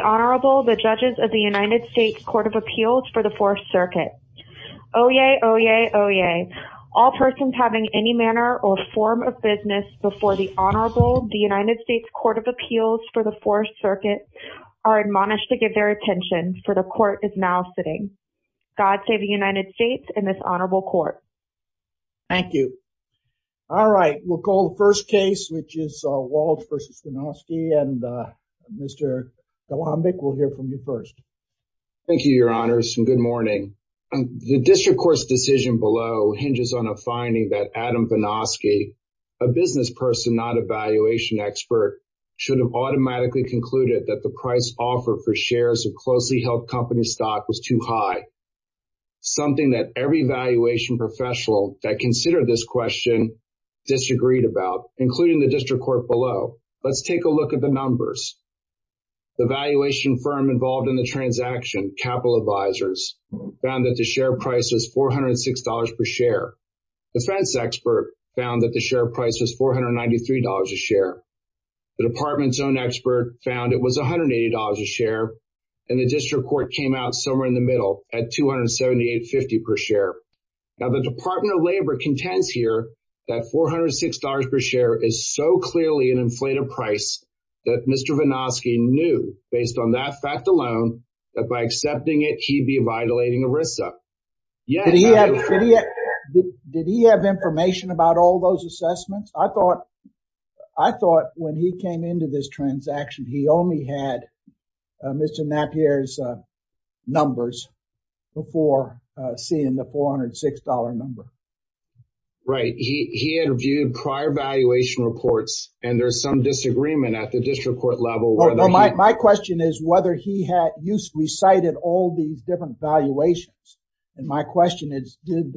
Honorable the judges of the United States Court of Appeals for the Fourth Circuit. Oyez, oyez, oyez. All persons having any manner or form of business before the Honorable the United States Court of Appeals for the Fourth Circuit are admonished to give their attention for the court is now sitting. God save the United States and this Honorable Court. Thank you. All right we'll call the Mr. Vinoskey and Mr. Kalambic will hear from you first. Thank you, your honors and good morning. The district court's decision below hinges on a finding that Adam Vinoskey, a business person not a valuation expert, should have automatically concluded that the price offer for shares of closely held company stock was too high. Something that every valuation professional that let's take a look at the numbers. The valuation firm involved in the transaction, Capital Advisors, found that the share price was $406 per share. Defense expert found that the share price was $493 a share. The department's own expert found it was $180 a share and the district court came out somewhere in the middle at $278.50 per share. Now the Department of Labor contends here that $406 per share is so clearly an inflated price that Mr. Vinoskey knew based on that fact alone that by accepting it he'd be violating ERISA. Did he have information about all those assessments? I thought I thought when he came into this transaction he only had Mr. Napier's numbers before seeing the $406 number. Right, he had viewed prior valuation reports and there's some disagreement at the district court level. My question is whether he had used recited all these different valuations and my question is did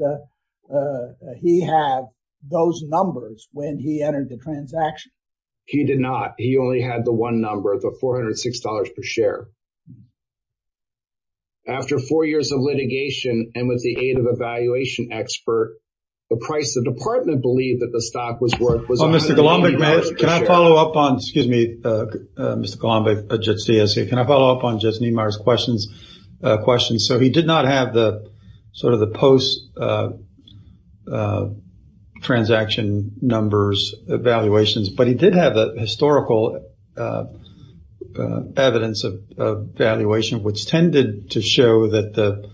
he have those numbers when he entered the transaction? He did not. He after four years of litigation and with the aid of a valuation expert the price the department believed that the stock was worth. Mr. Golombek, may I follow up on excuse me, Mr. Golombek, Judge Ciascia, can I follow up on Judge Niemeyer's questions? So he did not have the sort of the post transaction numbers evaluations but he did have the historical evidence of valuation which tended to show that the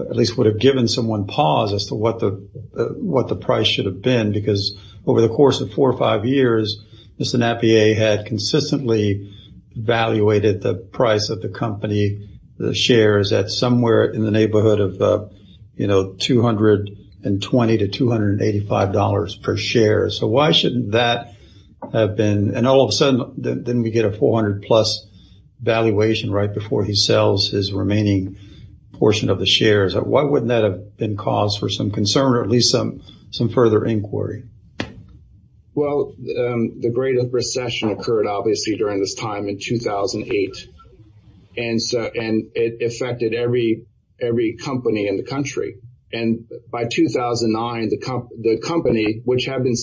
at least would have given someone pause as to what the what the price should have been because over the course of four or five years Mr. Napier had consistently evaluated the price of the company the shares at somewhere in the neighborhood of you know 220 to 285 dollars per share. So why shouldn't that have been and all of a sudden then we get a 400 plus valuation right before he sells his remaining portion of the shares. Why wouldn't that have been cause for some concern or at least some some further inquiry? Well the Great Recession occurred obviously during this time in 2008 and so and it affected every every company in the country and by 2009 the company which have been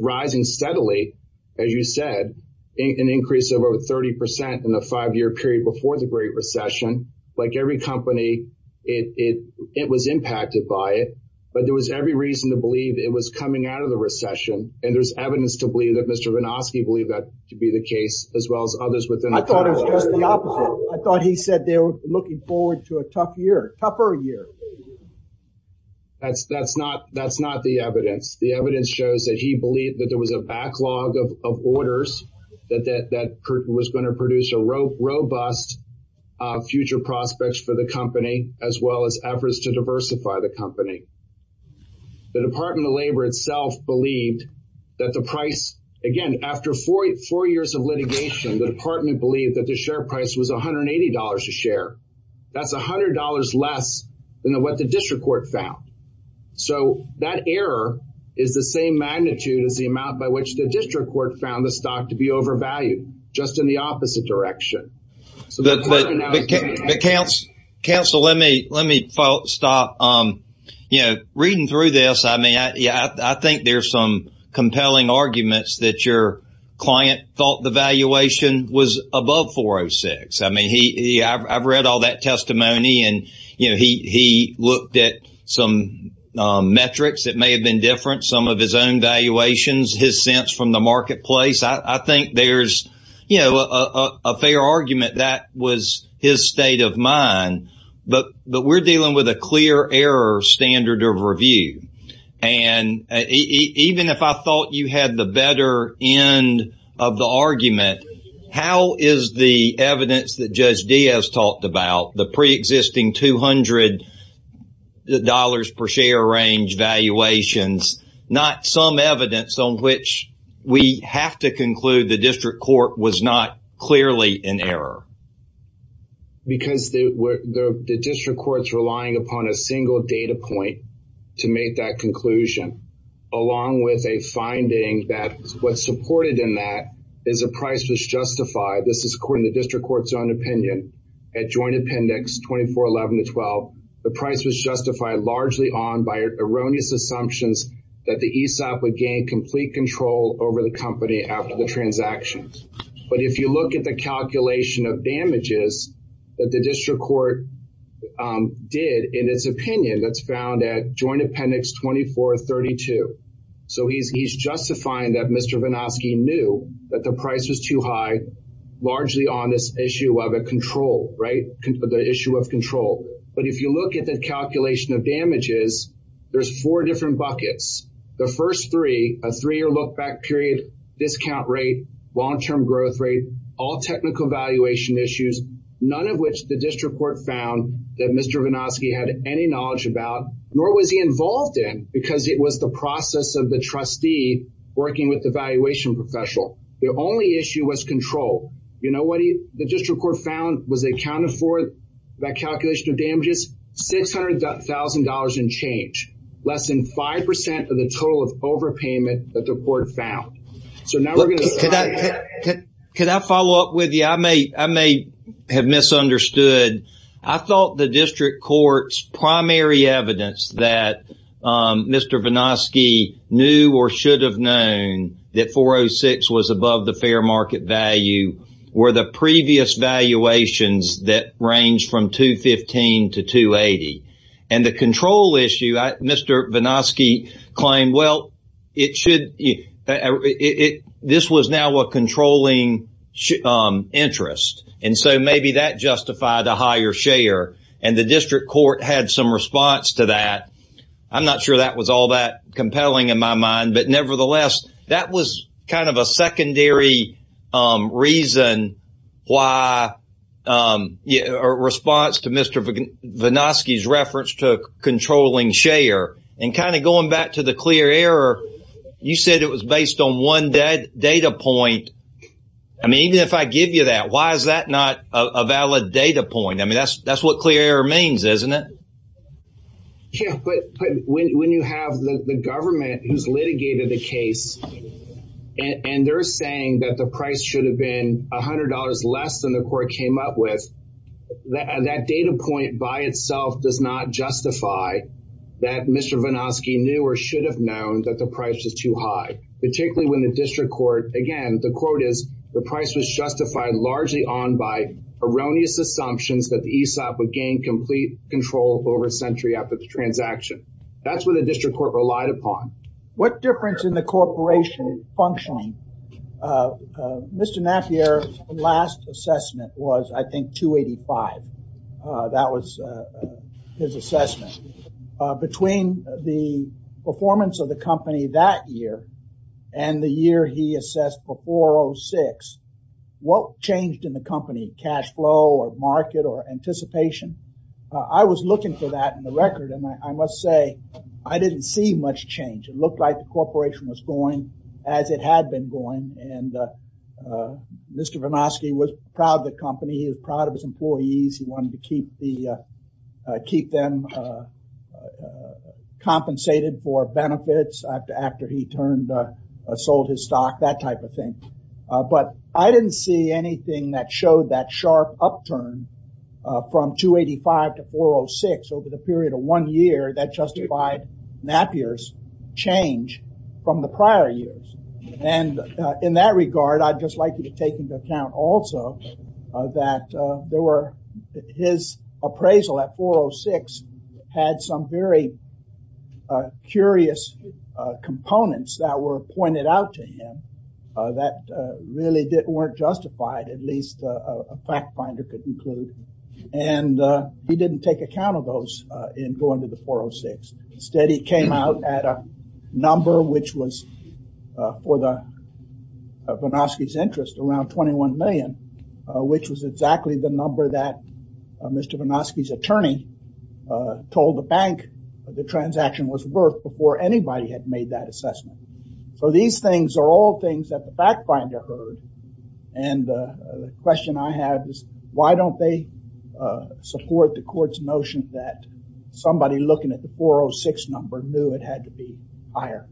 rising steadily as you said an increase of over 30% in the five-year period before the Great Recession like every company it it was impacted by it but there was every reason to believe it was coming out of the recession and there's evidence to believe that Mr. Winoski believed that to be the case as well as others within. I thought he said they were looking forward to a tough year tougher year. That's that's not that's not the evidence. The evidence shows that he believed that there was a backlog of orders that that was going to produce a robust future prospects for the company as well as efforts to diversify the company. The Department of Labor itself believed that the price again after 44 years of litigation the department believed that the share price was $180 a share. That's $100 less than what the district court found. So that error is the same magnitude as the amount by which the district court found the stock to be overvalued just in the opposite direction. But counsel let me let me stop you know reading through this I mean yeah I think there's some compelling arguments that your client thought the valuation was above 406. I mean he I've read all that looked at some metrics it may have been different some of his own valuations his sense from the marketplace. I think there's you know a fair argument that was his state of mind but but we're dealing with a clear error standard of review and even if I thought you had the better end of the argument how is the dollars per share range valuations not some evidence on which we have to conclude the district court was not clearly in error. Because the district courts relying upon a single data point to make that conclusion along with a finding that what supported in that is a price was justified this is according to was justified largely on by erroneous assumptions that the ESOP would gain complete control over the company after the transactions. But if you look at the calculation of damages that the district court did in its opinion that's found at Joint Appendix 2432. So he's justifying that Mr. Vanoski knew that the price was too high largely on this issue of a control right the issue of control. But if you look at the calculation of damages there's four different buckets the first three a three-year look back period discount rate long-term growth rate all technical valuation issues none of which the district court found that Mr. Vanoski had any knowledge about nor was he involved in because it was the process of the trustee working with the valuation professional. The only issue was control you know what he the district court found was accounted for by calculation of damages $600,000 in change less than 5% of the total of overpayment that the court found. So now can I follow up with you I may I may have misunderstood I thought the district courts primary evidence that Mr. Vanoski knew or should have known that 406 was above the fair market value were the previous valuations that ranged from 215 to 280 and the control issue Mr. Vanoski claimed well it should it this was now a controlling interest and so maybe that justified a higher share and the district court had some response to that. I'm not sure that was all that compelling in my mind but nevertheless that was kind of a secondary reason why a response to Mr. Vanoski's reference to controlling share and kind of going back to the clear error you said it was based on one dead data point I mean even if I give you that why is that not a valid data point I mean that's that's what clear means isn't it? Yeah but when you have the government who's litigated the case and they're saying that the price should have been $100 less than the court came up with that and that data point by itself does not justify that Mr. Vanoski knew or should have known that the price is too high particularly when the district court again the quote is the price was justified largely on by erroneous assumptions that the ESOP would gain complete control over a century after the transaction that's what the district court relied upon. What difference in the corporation functioning? Mr. Napier last assessment was I think 285 that was his assessment between the performance of the company that year and the year he assessed for 406 what changed in the company cash flow or market or anticipation I was looking for that in the record and I must say I didn't see much change it looked like the corporation was going as it had been going and Mr. Vanoski was proud of the company he was proud of his employees he wanted to keep the keep them compensated for benefits after he turned sold his stock that type of thing but I didn't see anything that showed that sharp upturn from 285 to 406 over the period of one year that justified Napier's change from the prior years and in that regard I'd just like you to take into account also that there were his appraisal at 406 had some very curious components that were pointed out to him that really didn't weren't justified at least a fact finder could include and he didn't take account of those in going to the 406 instead he came out at a number which was for the Vanoski's interest around 21 million which was exactly the number that Mr. Vanoski's attorney told the bank the transaction was worth before anybody had made that question I have is why don't they support the court's notion that somebody looking at the 406 number knew it had to be higher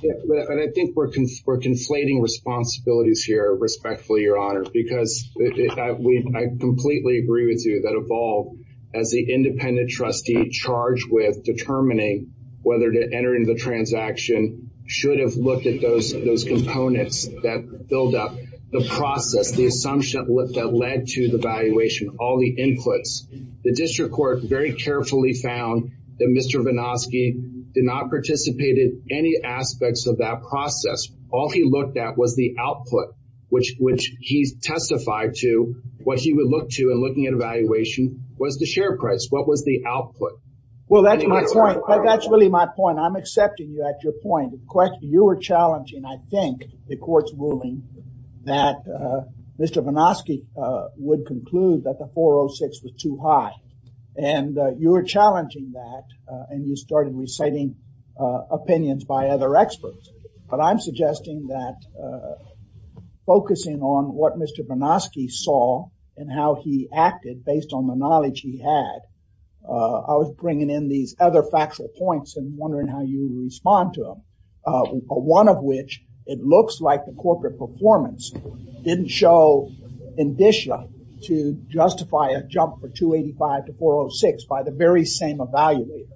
and I think we're conflating responsibilities here respectfully your honor because we completely agree with you that evolved as the independent trustee charged with determining whether to enter into the transaction should have looked at those components that build up the process the assumption that led to the valuation all the inputs the district court very carefully found that Mr. Vanoski did not participate in any aspects of that process all he looked at was the output which which he's testified to what he would look to and looking at evaluation was the share price what was the output well that's right that's really my point I'm accepting you at your point the question you were challenging I think the court's ruling that Mr. Vanoski would conclude that the 406 was too high and you were challenging that and you started reciting opinions by other experts but I'm suggesting that focusing on what Mr. Vanoski saw and how he acted based on the knowledge he had I was bringing in these other factual points and wondering how you respond to them one of which it looks like the corporate performance didn't show indicia to justify a jump for 285 to 406 by the very same evaluator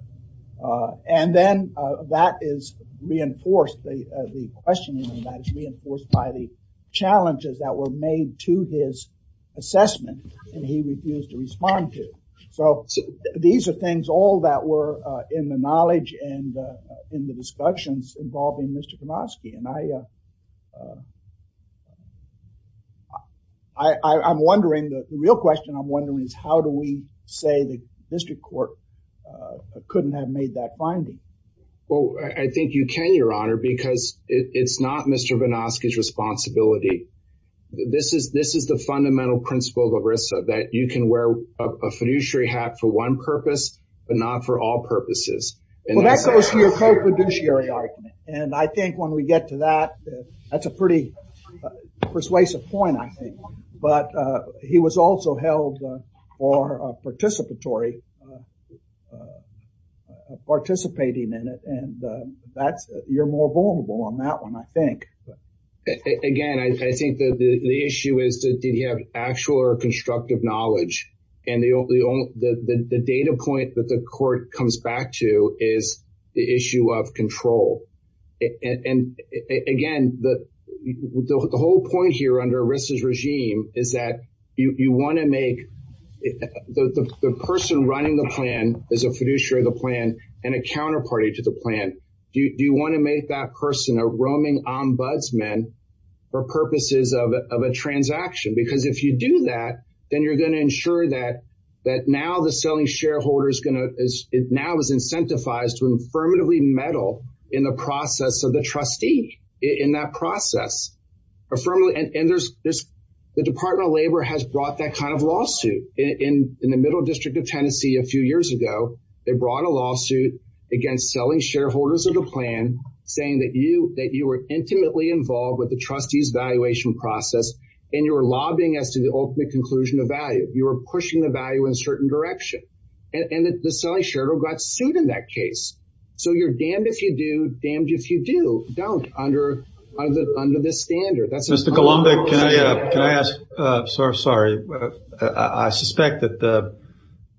and then that is reinforced the questioning that is reinforced by the challenges that were made to his assessment and he refused to in the discussions involving Mr. Vanoski and I I I'm wondering the real question I'm wondering is how do we say the district court couldn't have made that finding well I think you can your honor because it's not Mr. Vanoski's responsibility this is this is the fundamental principle of ERISA that you can wear a fiduciary hat for one purpose but not for all purposes and I think when we get to that that's a pretty persuasive point I think but he was also held or a participatory participating in it and that's you're more vulnerable on that one I think again I think that the issue is that did have actual or constructive knowledge and the only the data point that the court comes back to is the issue of control and again the whole point here under ERISA's regime is that you want to make the person running the plan is a fiduciary the plan and a counterparty to the plan do you want to make that person a roaming ombudsman for purposes of a transaction because if you do that then you're going to ensure that that now the selling shareholders gonna is it now is incentivized to affirmatively meddle in the process of the trustee in that process affirmatively and there's this the Department of Labor has brought that kind of lawsuit in in the Middle District of Tennessee a few years ago they brought a lawsuit against selling shareholders of the plan saying that you that you were intimately involved with the trustees valuation process and you were lobbying as to the ultimate conclusion of value you were pushing the value in a certain direction and that the selling shareholder got sued in that case so you're damned if you do damned if you do don't under under the standard that's mr. Columbia can I ask sorry I suspect that the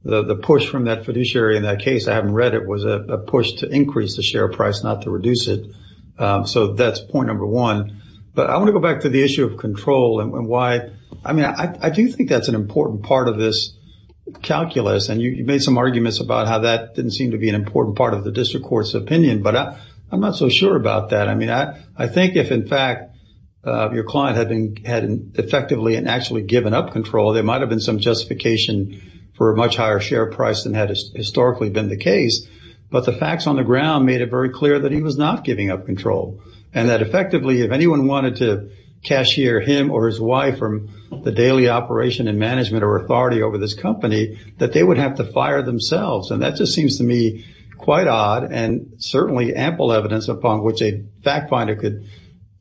the push from that fiduciary in that case I haven't read it was a push to increase the share price not to reduce it so that's point number one but I want to go back to the issue of control and why I mean I do think that's an important part of this calculus and you made some arguments about how that didn't seem to be an important part of the district courts opinion but I'm not so sure about that I mean I I think if in fact your client had been had an effectively and actually given up control there might have been some justification for a much higher share price than had historically been the case but the facts on the ground made it very clear that he was not giving up control and that effectively if anyone wanted to cashier him or his wife from the daily operation and management or authority over this company that they would have to fire themselves and that just seems to me quite odd and certainly ample evidence upon which a fact finder could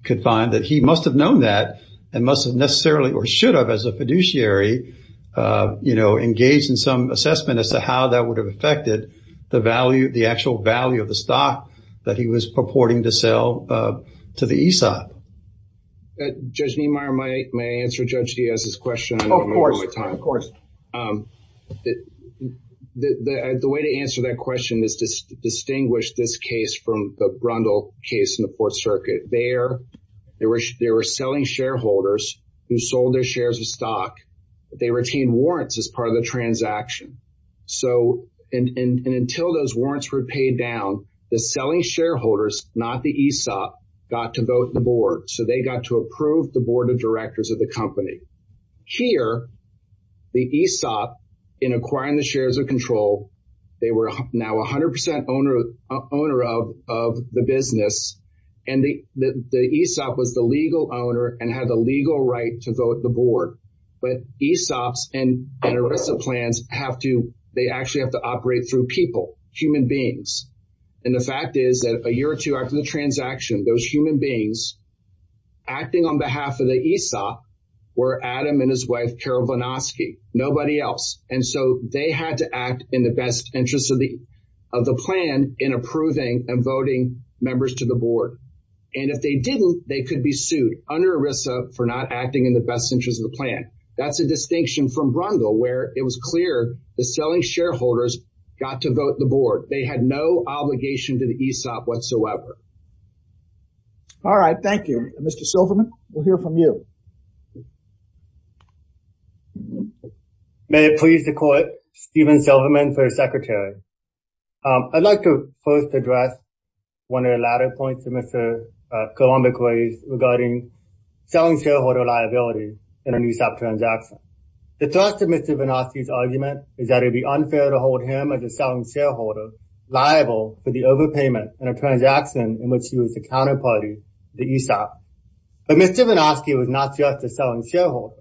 could find that he must have known that and must have necessarily or should have as a fiduciary you know engaged in some assessment as to how that would have affected the value the actual value of the stock that he was purporting to sell to the ESOP. Judge Niemeyer, may I answer Judge Diaz's question? Of course, of course. The way to answer that question is to distinguish this case from the Brundle case in the Fourth Circuit. There they were selling shareholders who sold their shares of stock but they retained warrants as part of the selling shareholders not the ESOP got to vote the board so they got to approve the board of directors of the company. Here the ESOP in acquiring the shares of control they were now a hundred percent owner of the business and the ESOP was the legal owner and had the legal right to vote the board but ESOPs and and ERISA plans have to they actually have to operate through people, human beings and the fact is that a year or two after the transaction those human beings acting on behalf of the ESOP were Adam and his wife Carol Vlnosky nobody else and so they had to act in the best interest of the of the plan in approving and voting members to the board and if they didn't they could be sued under ERISA for not acting in the best interest of the plan. That's a distinction from Brundle where it was clear the selling shareholders got to vote the board and they had no obligation to the ESOP whatsoever. All right, thank you. Mr. Silverman we'll hear from you. May it please the court, Steven Silverman, first secretary. I'd like to first address one of the latter points of Mr. Kolumbik raised regarding selling shareholder liability in an ESOP transaction. The thrust of Mr. Vlnosky's is that it'd be unfair to hold him as a selling shareholder liable for the overpayment and a transaction in which he was the counterparty the ESOP. But Mr. Vlnosky was not just a selling shareholder.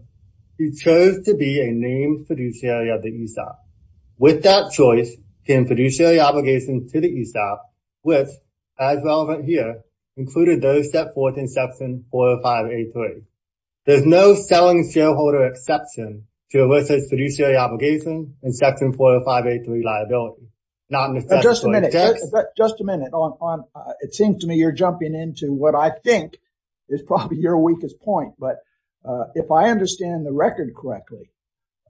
He chose to be a named fiduciary of the ESOP. With that choice came fiduciary obligations to the ESOP which as relevant here included those set forth in section 405 A3. There's no in section 405 A3 liability. Just a minute, just a minute. It seems to me you're jumping into what I think is probably your weakest point. But if I understand the record correctly,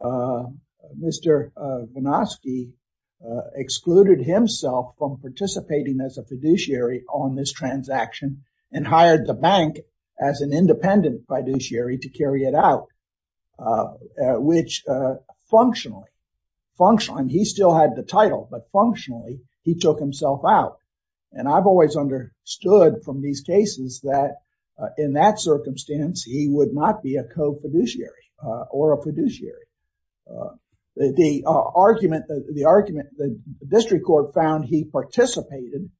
Mr. Vlnosky excluded himself from participating as a fiduciary on this transaction and hired the bank as an function. He still had the title but functionally he took himself out. And I've always understood from these cases that in that circumstance he would not be a co-fiduciary or a fiduciary. The argument, the argument, the district court found he participated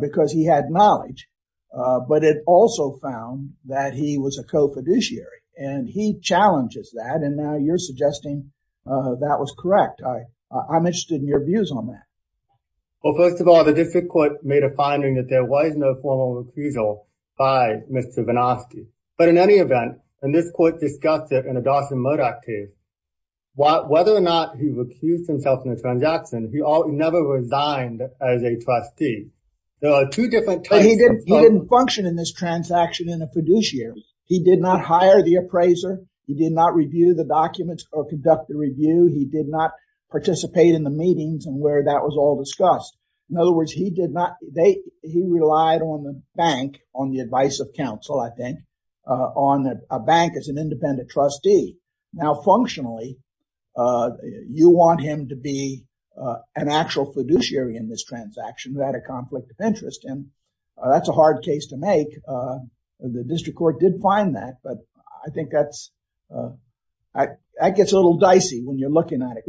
because he had knowledge but it also found that he was a co-fiduciary and he challenges that and now you're suggesting that was correct. I'm interested in your views on that. Well first of all the district court made a finding that there was no formal recusal by Mr. Vlnosky. But in any event and this court discussed it in a Dawson Murdoch case. Whether or not he recused himself in the transaction, he never resigned as a trustee. There are two different types. But he didn't function in this transaction in a fiduciary. He did not hire the appraiser. He did not review the documents or conduct the review. He did not participate in the meetings and where that was all discussed. In other words he did not, they, he relied on the bank, on the advice of counsel I think, on a bank as an independent trustee. Now functionally you want him to be an actual fiduciary in this transaction without a conflict of interest and that's a hard case to make. The district court did find that but I think that's, that gets a little dicey when you're looking at it.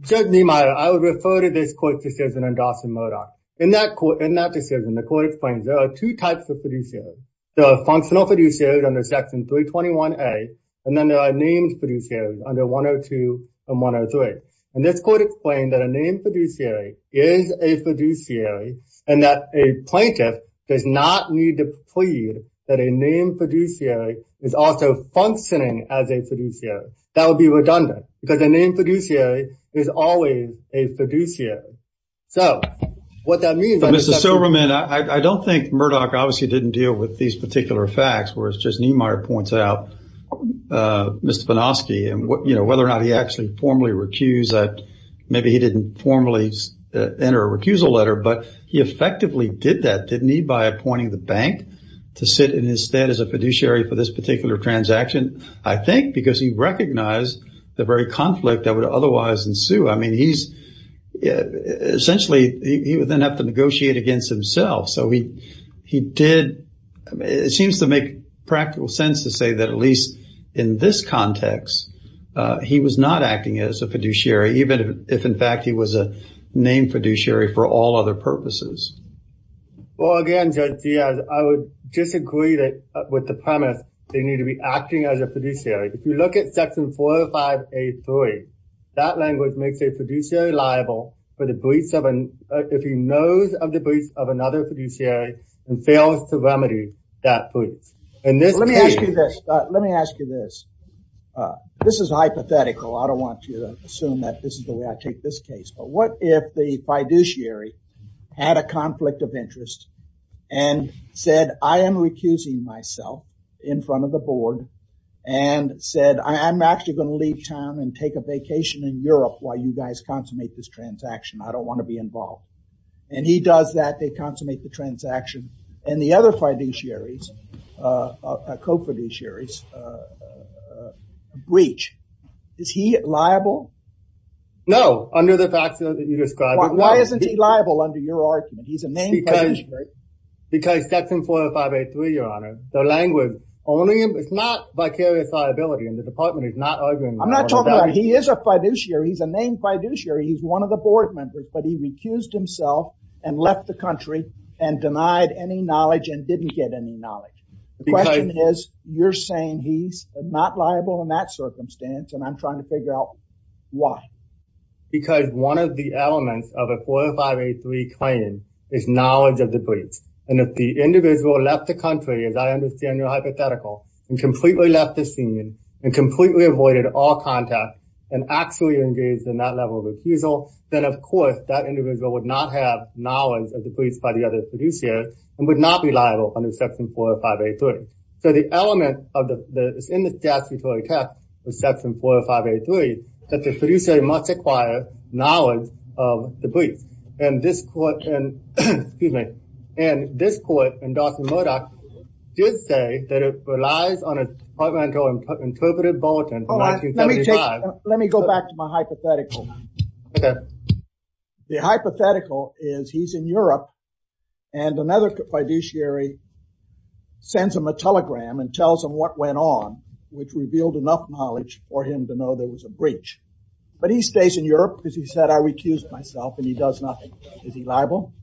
Judge Niemeyer, I would refer to this court's decision in Dawson Murdoch. In that court, in that decision the court explains there are two types of fiduciary. There are functional fiduciary under section 321a and then there are named fiduciary under 102 and 103. And this court explained that a named fiduciary is a fiduciary and that a plaintiff does not need to plead that a named fiduciary is also functioning as a fiduciary. That would be redundant because a named fiduciary is always a fiduciary. So what that means. Mr. Silverman, I don't think Murdoch obviously didn't deal with these particular facts whereas Judge Niemeyer points out Mr. Panofsky and what you know whether or not he actually formally recused that, maybe he didn't formally enter a recusal letter but he effectively did that, didn't he, by appointing the bank to sit in his stead as a fiduciary for this particular transaction. I think because he recognized the very conflict that would otherwise ensue. I mean he's essentially he would then have to negotiate against himself so he he did it seems to make practical sense to say that at least in this context he was not acting as a fiduciary for all other purposes. Well again Judge Diaz, I would disagree that with the premise they need to be acting as a fiduciary. If you look at section 405A3, that language makes a fiduciary liable for the breach of an, if he knows of the breach of another fiduciary and fails to remedy that breach. Let me ask you this. Let me ask you this. This is hypothetical. I don't want you to assume that this is the way I take this case but what if the fiduciary had a conflict of interest and said I am recusing myself in front of the board and said I am actually going to leave town and take a vacation in Europe while you guys consummate this transaction. I don't want to be involved and he does that. They consummate the transaction and the other fiduciaries, co-fiduciaries, breach. Is he liable? No, under the facts that you described. Why isn't he liable under your argument? He's a named fiduciary. Because section 405A3, your honor, the language only, it's not vicarious liability and the department is not arguing. I'm not talking about, he is a fiduciary, he's a named fiduciary, he's one of the board members but he recused himself and left the country and denied any knowledge and didn't get any knowledge. The question is you're saying he's not liable in that at all. Why? Because one of the elements of a 405A3 claim is knowledge of the breach and if the individual left the country, as I understand your hypothetical, and completely left the scene and completely avoided all contact and actually engaged in that level of refusal, then of course that individual would not have knowledge of the breach by the other fiduciary and would not be liable under section 405A3. So the element of the, in the statutory text of section 405A3, that the fiduciary must acquire knowledge of the breach and this court and, excuse me, and this court and Dawson Murdoch did say that it relies on a departmental interpreted bulletin. Let me go back to my hypothetical. The hypothetical is he's in Europe and another fiduciary sends him a telegram and tells him what went on, which revealed enough knowledge for him to know there was a breach, but he stays in Europe because he said I recused myself and he does nothing. Is he liable?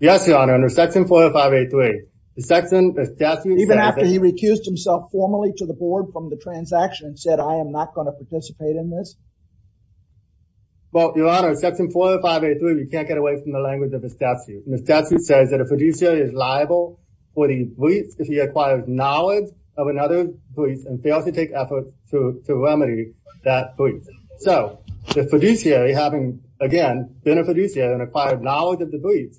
Yes, your honor. Under section 405A3, the section Even after he recused himself formally to the board from the transaction and said I am NOT going to participate in this? Well, your honor, section 405A3, you can't get away from the language of the statute. The statute says that a fiduciary is liable for the breach if he acquires knowledge of another breach and fails to take effort to remedy that breach. So the fiduciary having, again, been a fiduciary and acquired knowledge of the breach,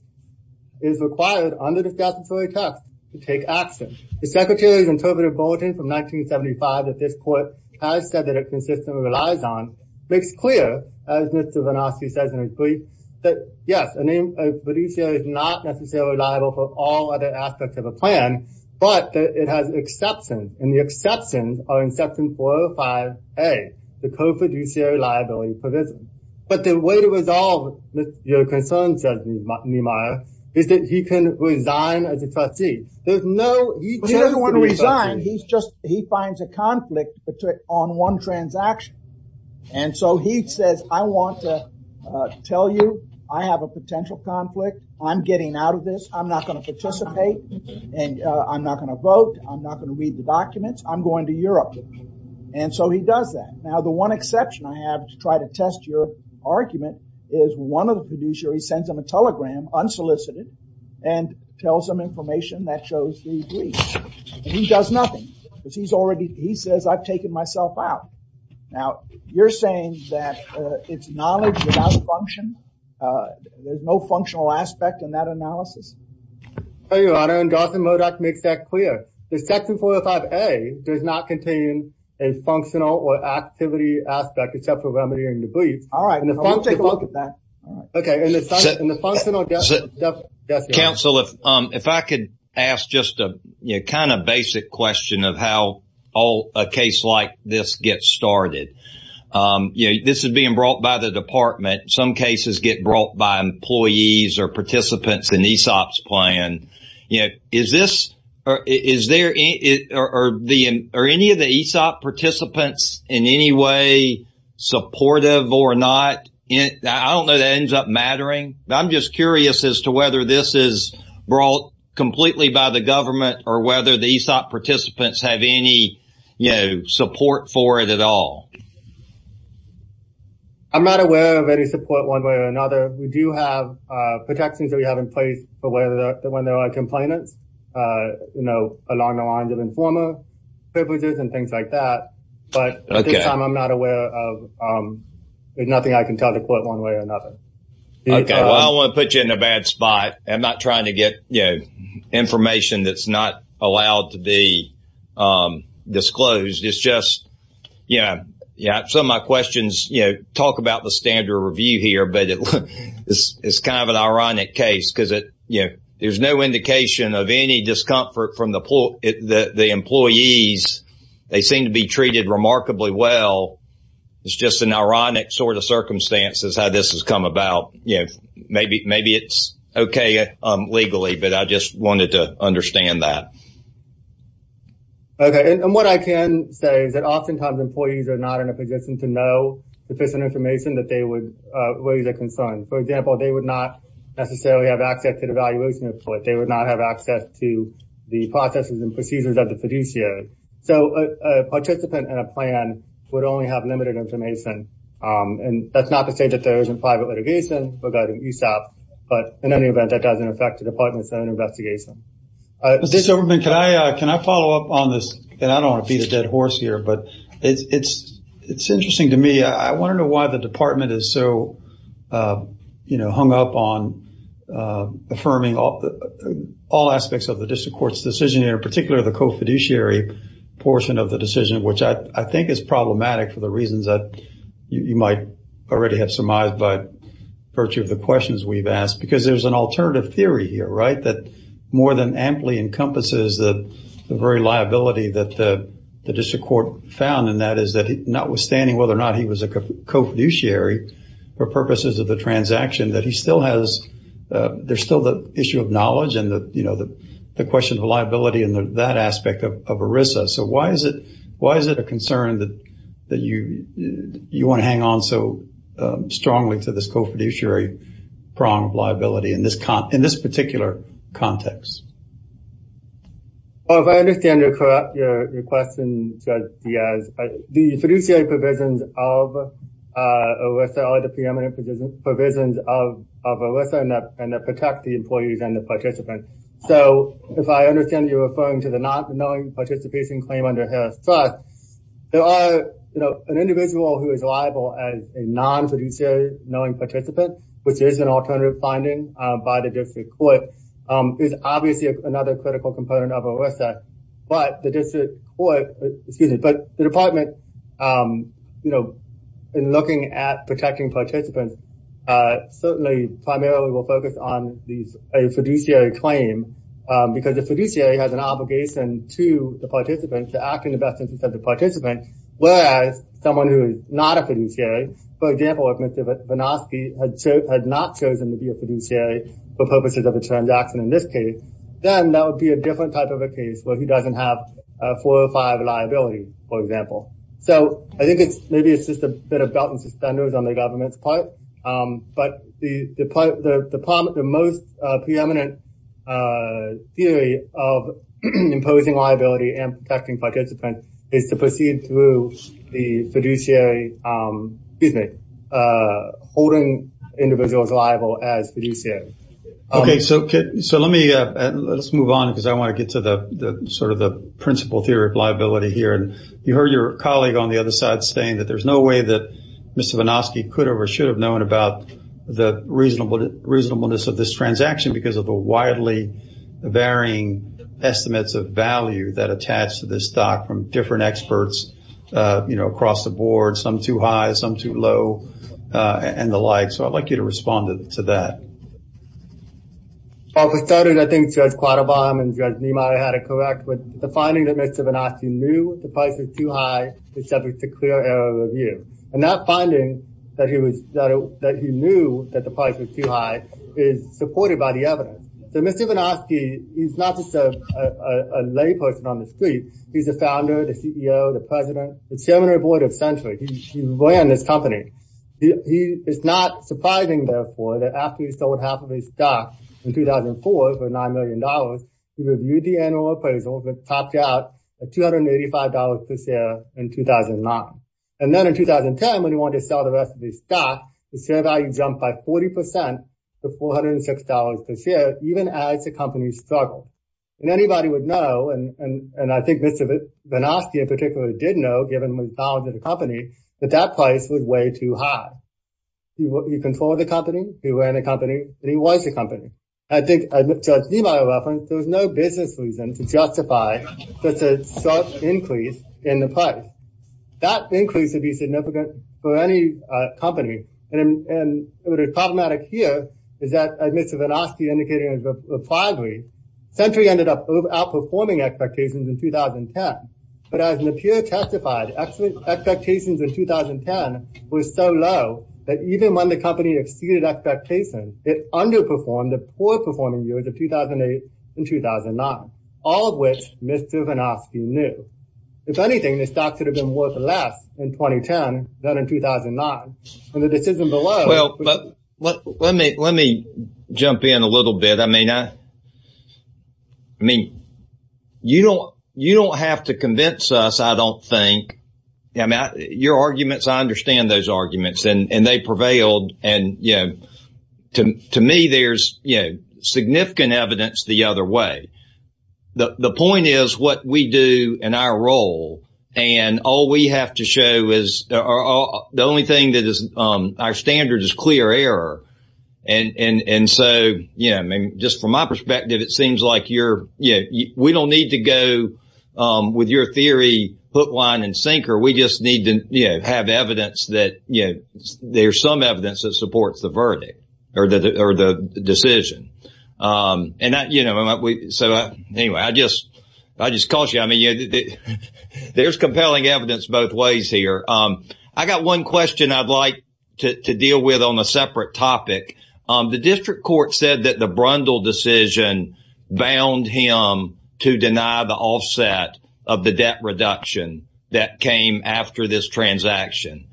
is required under the statutory text to take action. The secretary's interpreted bulletin from 1975 that this court has said that it consistently relies on makes clear, as Mr. Vinofsky says in his brief, that yes, a fiduciary is not necessarily liable for all other aspects of a plan, but it has exceptions and the exceptions are in section 405A, the co-fiduciary liability provision. But the way to resolve your concern, says Niemeyer, is that he can resign as a trustee. There's no, he doesn't want to resign, he's just, he finds a conflict on one transaction and so he says, I want to tell you I have a potential conflict, I'm getting out of this, I'm not going to participate and I'm not going to vote, I'm not going to read the documents, I'm going to Europe. And so he does that. Now the one exception I have to try to test your argument is one of the fiduciary sends him a telegram, unsolicited, and tells him information that shows the breach. He does nothing, because he's already, he says I've taken myself out. Now you're saying that it's knowledge without function, there's no functional aspect in that analysis? Your Honor, and Garth and Modak makes that clear. The section 405A does not contain a functional or activity aspect except for remediating the breach. All right, we'll take a look at that. Okay, in the functional definition. Counsel, if I could ask just a kind of basic question of how a case like this gets started. You know, this is being brought by the department, some cases get brought by employees or participants in ESOP's plan. You know, is this, is there, are any of the ESOP participants in any way supportive or not? I don't know that ends up mattering. I'm just curious as to whether this is brought completely by the government or whether the ESOP participants have any, you know, support for it at all. I'm not aware of any support one way or another. We do have protections that we have in place for when there are complainants, you know, along the lines of informer privileges and things like that, but this time I'm not aware of, there's nothing I can tell to quote one way or another. Okay, well I want to put you in a bad spot. I'm not trying to get, you know, information that's not allowed to be disclosed. It's just, yeah, yeah, some of my questions, you know, talk about the standard review here, but it's kind of an ironic case because it, you know, there's no indication of any discomfort from the employees. They seem to be treated remarkably well. It's just an idea that this has come about, you know, maybe it's okay legally, but I just wanted to understand that. Okay, and what I can say is that oftentimes employees are not in a position to know sufficient information that they would raise a concern. For example, they would not necessarily have access to the evaluation report. They would not have access to the processes and procedures of the fiduciary. So a participant in a plan would only have limited information, and that's not to say that there isn't private litigation regarding USAP, but in any event that doesn't affect the department's own investigation. Mr. Soberman, can I follow up on this, and I don't want to beat a dead horse here, but it's interesting to me. I want to know why the department is so, you know, hung up on affirming all aspects of the district court's decision, in particular the co-fiduciary portion of the decision, which I think is problematic for the district court. I think it's a little bit exormized by virtue of the questions we've asked, because there's an alternative theory here, right, that more than amply encompasses the very liability that the district court found, and that is that notwithstanding whether or not he was a co-fiduciary for purposes of the transaction, that he still has, there's still the issue of knowledge and the, you know, the question of liability and that aspect of ERISA. So why is it a concern that you want to hang on so strongly to this co-fiduciary prong of liability in this particular context? Well, if I understand your question, Judge Diaz, the fiduciary provisions of ERISA are the preeminent provisions of ERISA and that protect the employees and the participants. So if I understand you referring to the not knowing participation claim under ERISA, there are, you know, an individual who is liable as a non-fiduciary knowing participant, which is an alternative finding by the district court, is obviously another critical component of ERISA, but the district court, excuse me, but the department, you know, in looking at protecting participants, certainly primarily will focus on a fiduciary claim because the fiduciary has an obligation to the participant to act in the best interest of the participant, whereas someone who is not a fiduciary, for example, if Mr. Vinovsky had not chosen to be a fiduciary for purposes of a transaction in this case, then that would be a different type of a case where he doesn't have four or five liabilities, for example. So I think it's maybe it's just a bit of belt and suspenders on the government's part, but the department, the most preeminent theory of imposing liability and protecting participants is to proceed through the fiduciary, excuse me, holding individuals liable as fiduciary. Okay, so let me let's move on because I want to get to the sort of the principal theory of liability here, and you heard your colleague on the other side saying that there's no way that Mr. Vinovsky could or should have known about the reasonableness of this transaction because of the widely varying estimates of value that attach to this stock from different experts, you know, across the board, some too high, some too low, and the like. So I'd like you to respond to that. Well, for starters, I think Judge Quattlebaum and Judge Niemeyer had it correct with the finding that Mr. Vinovsky knew the price was too high to subject to clear error review, and that finding that he was, that he knew that the price was too high is supported by the evidence. So Mr. Vinovsky, he's not just a layperson on the street, he's the founder, the CEO, the president, the chairman of the board of Century. He ran this company. He, it's not surprising, therefore, that after he sold half of his stock in 2004 for nine million dollars, he reviewed the annual appraisals and topped out at $285 per share in 2009. And then in 2010, when he wanted to sell the rest of his stock, the share value jumped by 40% to $406 per share, even as the company struggled. And anybody would know, and I think Mr. Vinovsky in particular did know, given his knowledge of the company, that that price was way too high. He controlled the company, he ran the company, and he was the company. I think, as Judge Niemeyer referenced, there was no business reason to justify such a increase in the price. That increase would be significant for any company. And what is problematic here is that, as Mr. Vinovsky indicated in his reply brief, Century ended up outperforming expectations in 2010. But as Niemeyer testified, expectations in 2010 were so low that even when the company exceeded expectations, it underperformed the poor performing years of 2008 and 2009, all of which Mr. Vinovsky knew. If anything, this stock could have been worth less in 2010 than in 2009. And the decision below... Well, but let me jump in a little bit. I mean, you don't have to convince us, I don't think. I mean, your arguments, I understand those arguments, and they prevailed. And to me, there's significant evidence the other way. The point is what we do in our role, and all we have to show is the only thing that is our standard is clear error. And so, yeah, I mean, just from my perspective, it seems like we don't need to go with your theory, hook, line, and sinker. We just need to have evidence that there's some evidence that supports the verdict or the decision. And that, you know, so anyway, I just caution you. I mean, there's compelling evidence both ways here. I got one question I'd like to deal with on a separate topic. The district court said that the Brundle decision bound him to deny the offset of the debt reduction that came after this transaction.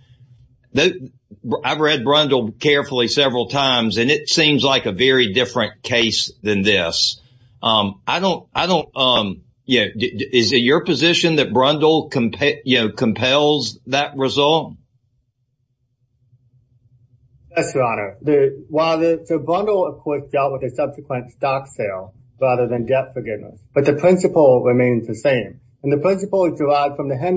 I've read Brundle carefully several times, and it seems like a very different case than this. I don't, I don't, you know, is it your position that Brundle, you know, compels that resolve? Yes, Your Honor. While the Brundle, of course, dealt with a subsequent stock sale rather than debt forgiveness, but the principle remains the same. And the principle is derived from the fact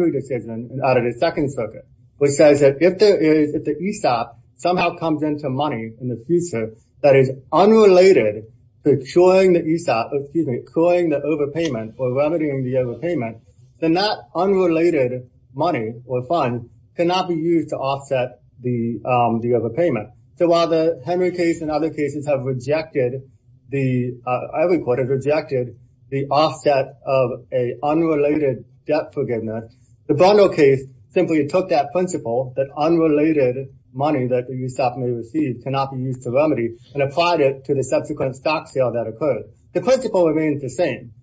that if the ESOP somehow comes into money in the future that is unrelated to curing the ESOP, excuse me, curing the overpayment or remedying the overpayment, then that unrelated money or fund cannot be used to offset the overpayment. So while the Henry case and other cases have rejected the, every court has rejected the offset of a unrelated debt forgiveness, the Brundle case simply took that principle that unrelated money that the ESOP may receive cannot be used to remedy and applied it to the subsequent stock sale that occurred. The principle remains the same.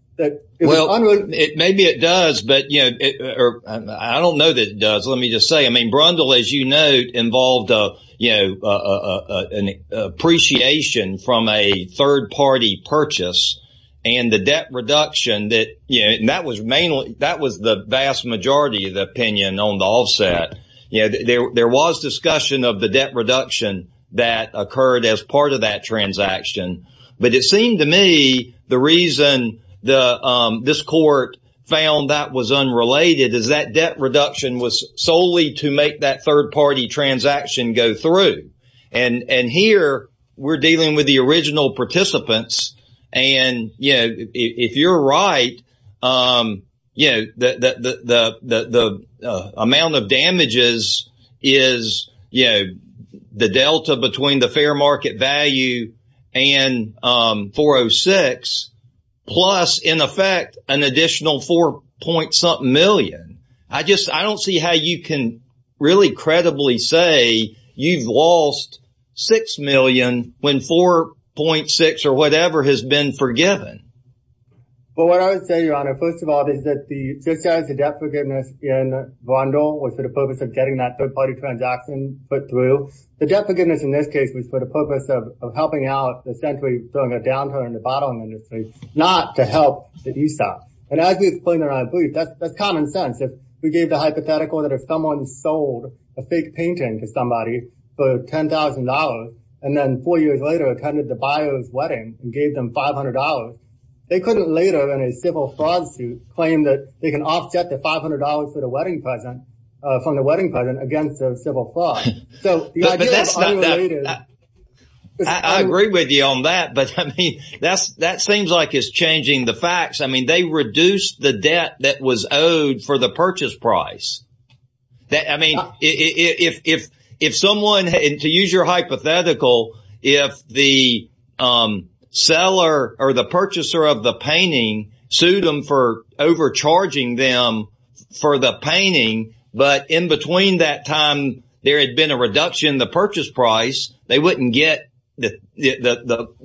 Well, maybe it does, but you know, I don't know that it does. Let me just say, I mean, Brundle, as you note, involved, you know, an appreciation from a third party purchase and the debt reduction that, you know, and that was mainly, that was the vast majority of the opinion on the offset. You know, there was discussion of the debt reduction that occurred as part of that transaction. But it seemed to me the reason this court found that was unrelated is that debt reduction was solely to make that third party transaction go through. And here we're dealing with the original participants. And, you know, if you're right, you know, that the amount of damages is, you know, the delta between the fair market value and 406 plus, in effect, an additional four point something million. I just I don't see how you can really credibly say you've lost six million when 4.6 or whatever has been forgiven. Well, what I would say, Your Honor, first of all, is that the debt forgiveness in Brundle was for the purpose of getting that third party transaction put through. The debt forgiveness in this case was for the purpose of helping out, essentially throwing a downturn in the bottling industry, not to help the ESOP. And as we explained in our brief, that's common sense. If we gave the hypothetical that if someone sold a fake painting to somebody for $10,000 and then four years later attended the buyer's wedding and gave them $500, they couldn't later in a civil fraud suit claim that they can offset the $500 for the wedding present from the wedding present against the civil fraud. So that's not that I agree with you on that. But I mean, that's that seems like it's changing the facts. I mean, they reduce the debt that was owed for the purchase price. That I mean, if if someone had to use your hypothetical, if the seller or the purchaser of the painting sued them for overcharging them for the painting, but in between that time, there had been a reduction in the purchase price, they wouldn't get the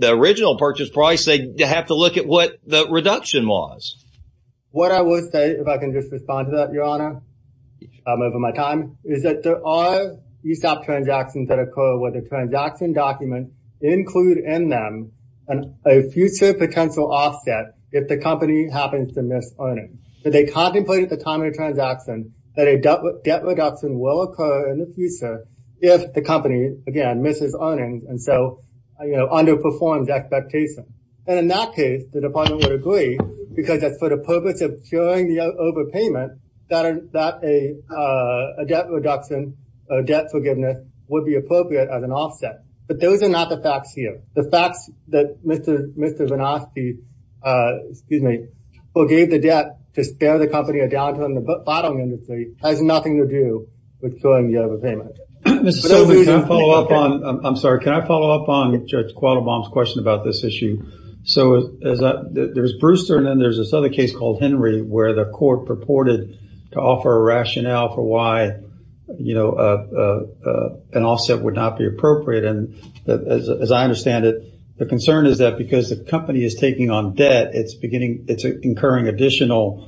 original purchase price, they have to look at what the reduction was. What I will say, if I can just respond to that, Your Honor, over my time is that there are ESOP transactions that occur with a transaction document include in them and a future potential offset if the company happens to miss earnings. So they contemplate at the time of the transaction that a debt reduction will occur in the future, if the company again, misses earnings and so, you know, underperforms expectations. And in that case, the department would agree, because that's for the purpose of curing the overpayment, that a debt reduction, or debt forgiveness would be appropriate as an offset. But those are not the facts here. The facts that Mr. Mr. Vinaski, excuse me, forgave the debt to spare the company a downturn in the bottom industry has nothing to do with curing the overpayment. I'm sorry, can I follow up on Judge Qualabong's question about this issue? So there's Brewster, and then there's this other case called Henry, where the court purported to offer a rationale for why, you know, an offset would not be appropriate. And as I understand it, the concern is that because the additional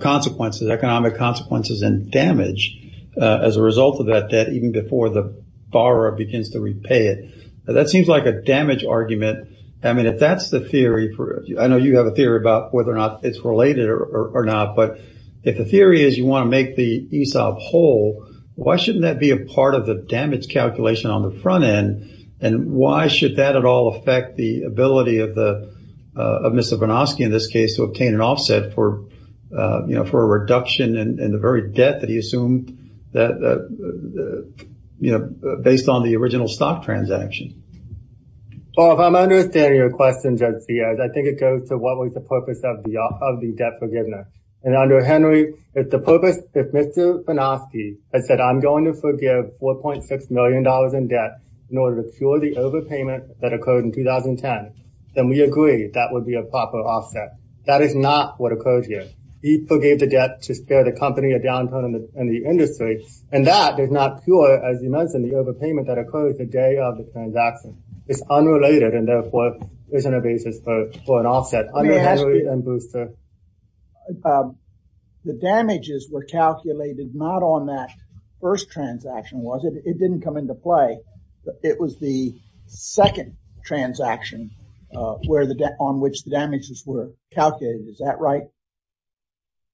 consequences, economic consequences and damage as a result of that debt, even before the borrower begins to repay it, that seems like a damage argument. I mean, if that's the theory, I know you have a theory about whether or not it's related or not. But if the theory is you want to make the ESOP whole, why shouldn't that be a part of the damage calculation on the front end? And why should that at all affect the ability of Mr. Vinaski in this case to obtain an offset for, you know, for a reduction in the very debt that he assumed that, you know, based on the original stock transaction? Well, if I'm understanding your question, Judge Sears, I think it goes to what was the purpose of the debt forgiveness. And under Henry, it's the purpose if Mr. Vinaski had said, I'm going to forgive $4.6 million in debt in order to cure the overpayment that occurred in 2010, then we agree that would be a proper offset. That is not what occurs here. He forgave the debt to spare the company a downturn in the industry. And that is not pure, as you mentioned, the overpayment that occurred the day of the transaction is unrelated and therefore isn't a basis for an offset under Henry and Brewster. But the damages were calculated not on that first transaction, was it? It didn't come into play. It was the second transaction where the debt on which the damages were calculated. Is that right?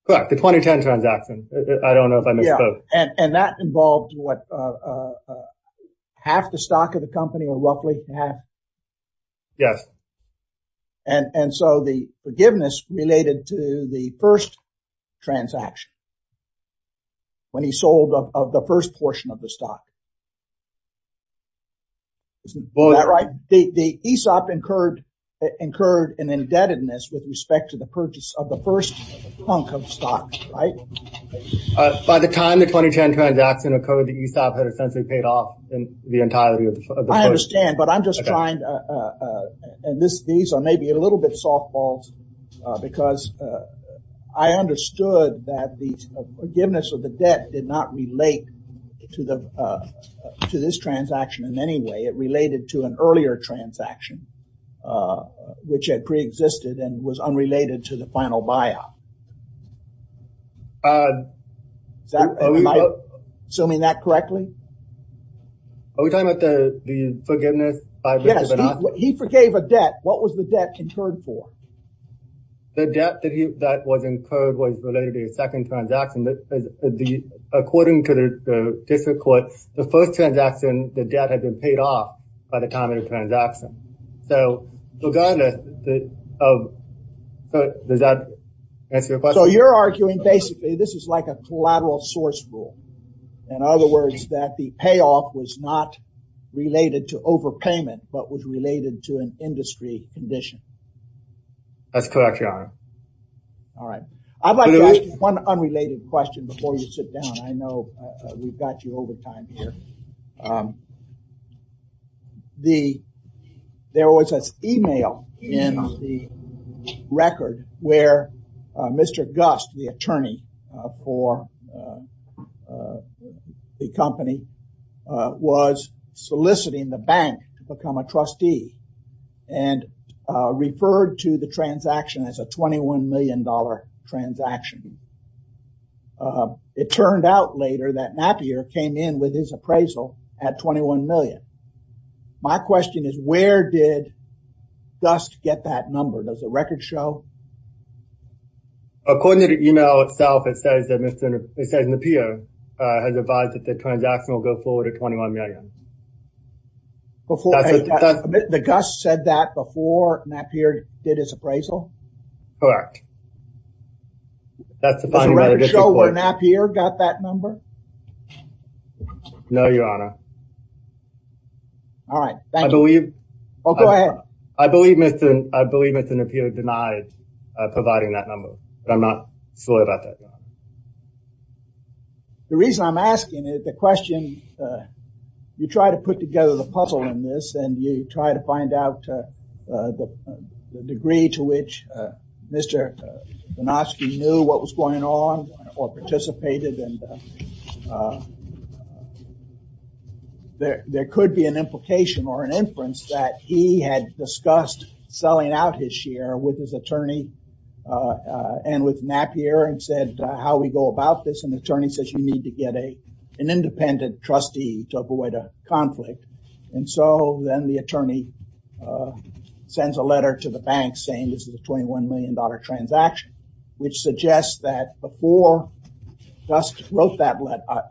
Correct. The 2010 transaction. I don't know if I missed both. And that involved what? Half the stock of the company or roughly half? Yes. And so the forgiveness related to the first transaction. When he sold of the first portion of the stock. Isn't that right? The ESOP incurred an indebtedness with respect to the purchase of the first chunk of stock, right? By the time the 2010 transaction occurred, the ESOP had essentially paid off in the entirety of the purchase. I understand, but I'm just trying to, and these are maybe a little bit softballed, because I understood that the forgiveness of the debt did not relate to this transaction in any way. It related to an earlier transaction, which had pre-existed and was unrelated to the final buyout. Am I assuming that correctly? Are we talking about the forgiveness? Yes, he forgave a debt. What was the debt incurred for? The debt that was incurred was related to the second transaction. According to the district court, the first transaction, the debt had been paid off by the time of the transaction. So regardless of, does that answer your question? So you're arguing basically, this is like a collateral source rule. In other words, that the payoff was not related to overpayment, but was related to an industry condition. That's correct, your honor. All right. I'd like to ask you one unrelated question before you sit down. I know we've got you over time here. There was an email in the record where Mr. Gust, the attorney for the company, was soliciting the bank to become a trustee and referred to the transaction as a $21 million transaction. It turned out later that Napier came in with his appraisal at $21 million. My question is, where did Gust get that number? Does the record show? According to the email itself, it says that Mr. Napier has advised that the transaction will go forward at $21 million. The Gust said that before Napier did his appraisal? Correct. Does the record show where Napier got that number? No, your honor. All right. Thank you. I believe Mr. Napier denied providing that number, but I'm not sure about that. The reason I'm asking is the question, you try to put together the puzzle in this and you try to find out the degree to which Mr. Banowski knew what was going on or participated. There could be an implication or an inference that he had discussed selling out his share with his attorney and with Napier and said, how we go about this? An attorney says you need to get an independent trustee to avoid a conflict. And so then the attorney sends a letter to the bank saying this is a $21 million transaction, which suggests that before Gust wrote that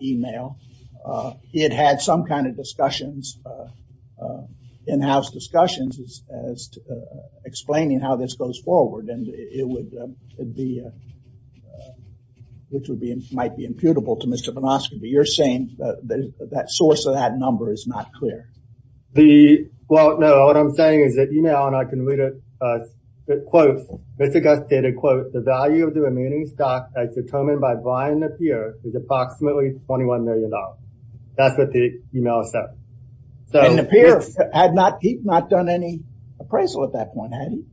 email, it had some kind of discussions, in-house discussions as to explaining how this goes forward. And it would be, which might be imputable to Mr. Banowski, but you're saying that source of that number is not clear. The, well, no, what I'm saying is that email, and I can read it, it quotes, Mr. Gust stated, quote, the value of the remaining stock as determined by Brian Napier is approximately $21 million. That's what the email said. And Napier had not, he'd not done any appraisal at that point, had he?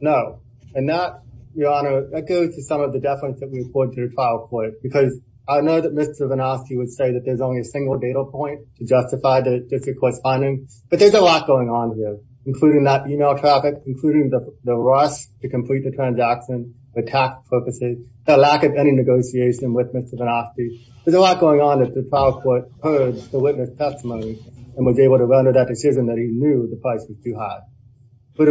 No. And that, Your Honor, that goes to some of the deference that we report to the trial court, because I know that Mr. Banowski would say that there's only a single data point to justify the district correspondence. But there's a lot going on here, including that email traffic, including the rush to complete the transaction, the tax purposes, the lack of any negotiation with Mr. Banowski. There's a lot going on that the trial court heard the witness testimony and was able to render that decision that he knew the price was too high. But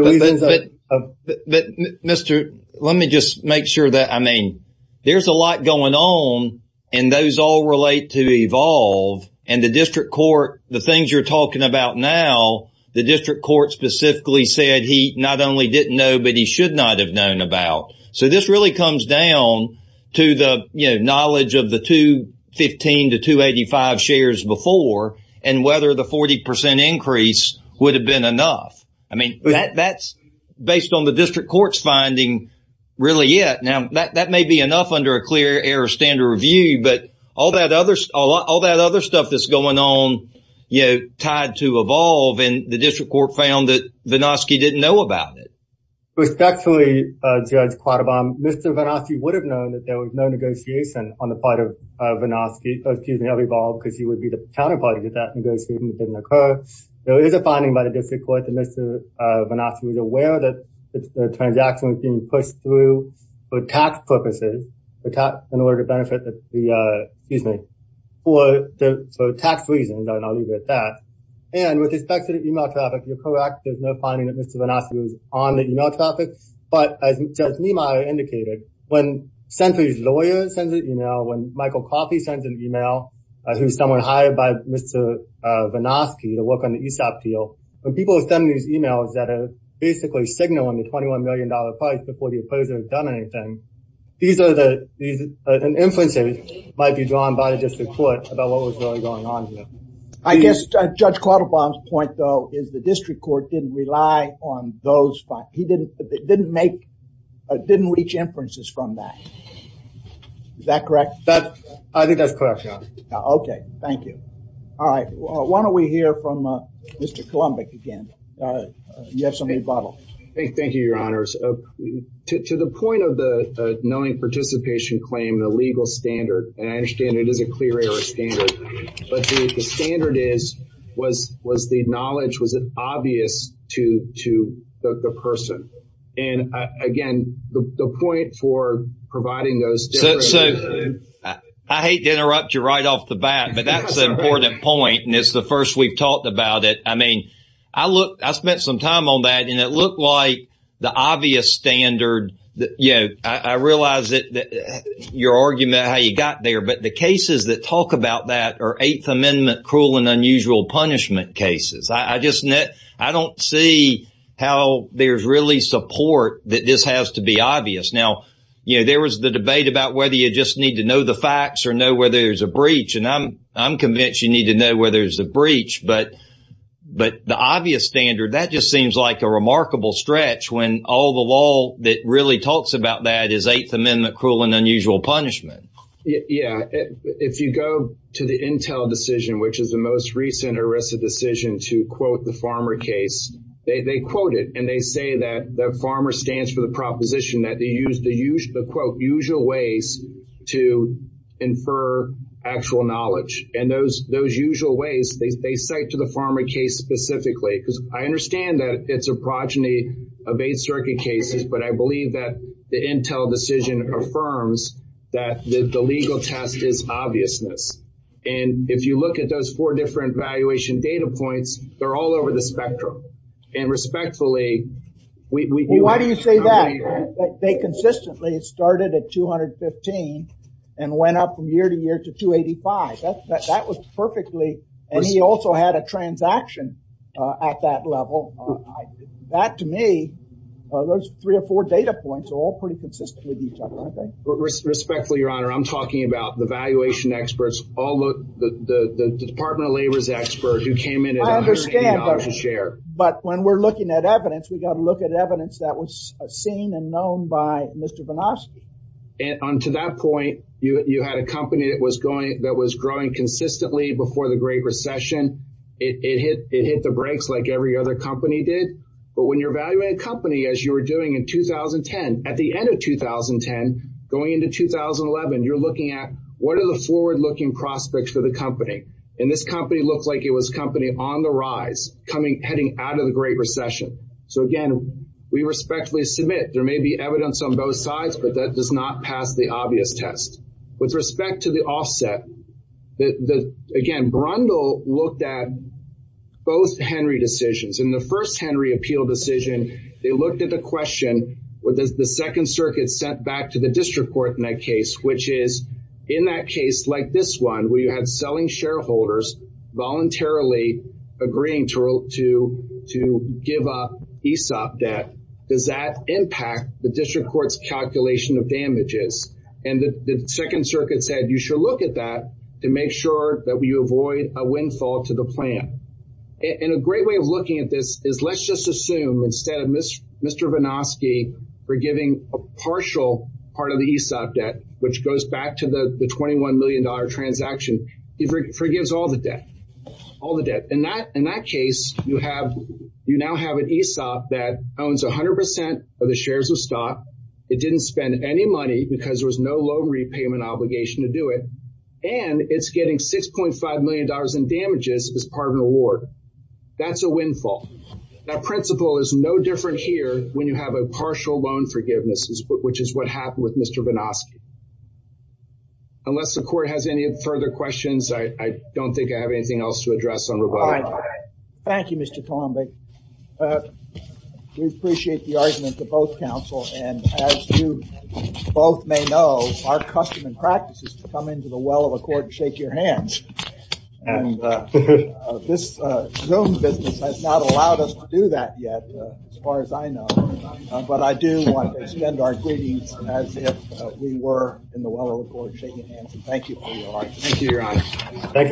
Mr., let me just make sure that I mean, there's a lot going on and those all relate to evolve. And the district court, the things you're talking about now, the district court specifically said he not only didn't know, but he should not have known about. So this really comes down to the knowledge of the 215 to 285 shares before and whether the 40 percent increase would have been enough. And that's based on the district court's finding really yet. Now, that may be enough under a clear air standard review. But all that others, all that other stuff that's going on, you know, tied to evolve in the district court found that Banowski didn't know about it. Respectfully, Judge Quattlebaum, Mr. Banowski would have known that there was no negotiation on the part of Banowski. Excuse me, because he would be the counterparty that that didn't occur. There is a finding by the district court that Mr. Banowski was aware that the transaction was being pushed through for tax purposes, in order to benefit the, excuse me, for tax reasons. And I'll leave it at that. And with respect to the email traffic, you're correct. There's no finding that Mr. Banowski was on the email traffic. But as Judge Niemeyer indicated, when Senator's lawyer sends an email, when Michael Coffey sends an email, who's someone hired by Mr. Banowski to work on the ESOP deal, when people send these emails that are basically signaling the $21 million price before the opposer has done anything, these are the, these are the inferences that might be drawn by the district court about what was really going on here. I guess Judge Quattlebaum's point, though, is the district court didn't rely on those findings. He didn't, didn't make, didn't reach inferences from that. Is that correct? I think that's correct, yeah. Okay, thank you. All right, why don't we hear from Mr. Kolumbic again. You have something to bottle. Thank you, your honors. To the point of the knowing participation claim, the legal standard, and I understand it is a clear error standard, but the standard is, was the knowledge, was it obvious to the person? And, again, the point for providing those different… So, I hate to interrupt you right off the bat, but that's an important point, and it's the first we've talked about it. I mean, I spent some time on that, and it looked like the obvious standard, you know, I realize that your argument, how you got there, but the cases that talk about that are Eighth Amendment cruel and unusual punishment cases. I just, I don't see how there's really support that this has to be obvious. Now, you know, there was the debate about whether you just need to know the facts or know whether there's a breach, and I'm convinced you need to know whether there's a breach, but the obvious standard, that just seems like a remarkable stretch when all the law that really talks about that is Eighth Amendment cruel and unusual punishment. Yeah. If you go to the Intel decision, which is the most recent ERISA decision to quote the FARMER case, they quote it, and they say that FARMER stands for the proposition that they use the, quote, usual ways to infer actual knowledge, and those usual ways, they cite to the FARMER case specifically, because I understand that it's a progeny of Eighth Circuit cases, but I believe that the Intel decision affirms that the legal test is obviousness. And if you look at those four different valuation data points, they're all over the spectrum. And respectfully, we- Why do you say that? They consistently started at 215 and went up from year to year to 285. That was perfectly, and he also had a transaction at that level. That, to me, those three or four data points are all pretty consistent with each other, I think. Respectfully, Your Honor, I'm talking about the valuation experts, the Department of Labor's expert who came in at $180 a share. I understand, but when we're looking at evidence, we've got to look at evidence that was seen and known by Mr. Vonoski. And to that point, you had a company that was growing consistently before the Great Recession. It hit the brakes like every other company did. But when you're evaluating a company, as you were doing in 2010, at the end of 2010, going into 2011, you're looking at what are the forward-looking prospects for the company. And this company looked like it was a company on the rise, heading out of the Great Recession. So, again, we respectfully submit there may be evidence on both sides, but that does not pass the obvious test. With respect to the offset, again, Brundle looked at both Henry decisions. In the first Henry appeal decision, they looked at the question, the Second Circuit sent back to the district court in that case, which is, in that case, like this one, where you had selling shareholders voluntarily agreeing to give up ESOP debt, does that impact the district court's calculation of damages? And the Second Circuit said, you should look at that to make sure that you avoid a windfall to the plan. And a great way of looking at this is let's just assume instead of Mr. Vonoski forgiving a partial part of the ESOP debt, which goes back to the $21 million transaction, he forgives all the debt, all the debt. In that case, you now have an ESOP that owns 100% of the shares of stock. It didn't spend any money because there was no loan repayment obligation to do it. And it's getting $6.5 million in damages as part of an award. That's a windfall. That principle is no different here when you have a partial loan forgiveness, which is what happened with Mr. Vonoski. Unless the court has any further questions, I don't think I have anything else to address on rebuttal. Thank you, Mr. Columbic. We appreciate the argument of both counsel. And as you both may know, our custom and practice is to come into the well of a court and shake your hands. And this Zoom business has not allowed us to do that yet, as far as I know. But I do want to extend our greetings as if we were in the well of a court shaking hands. Thank you, Your Honor.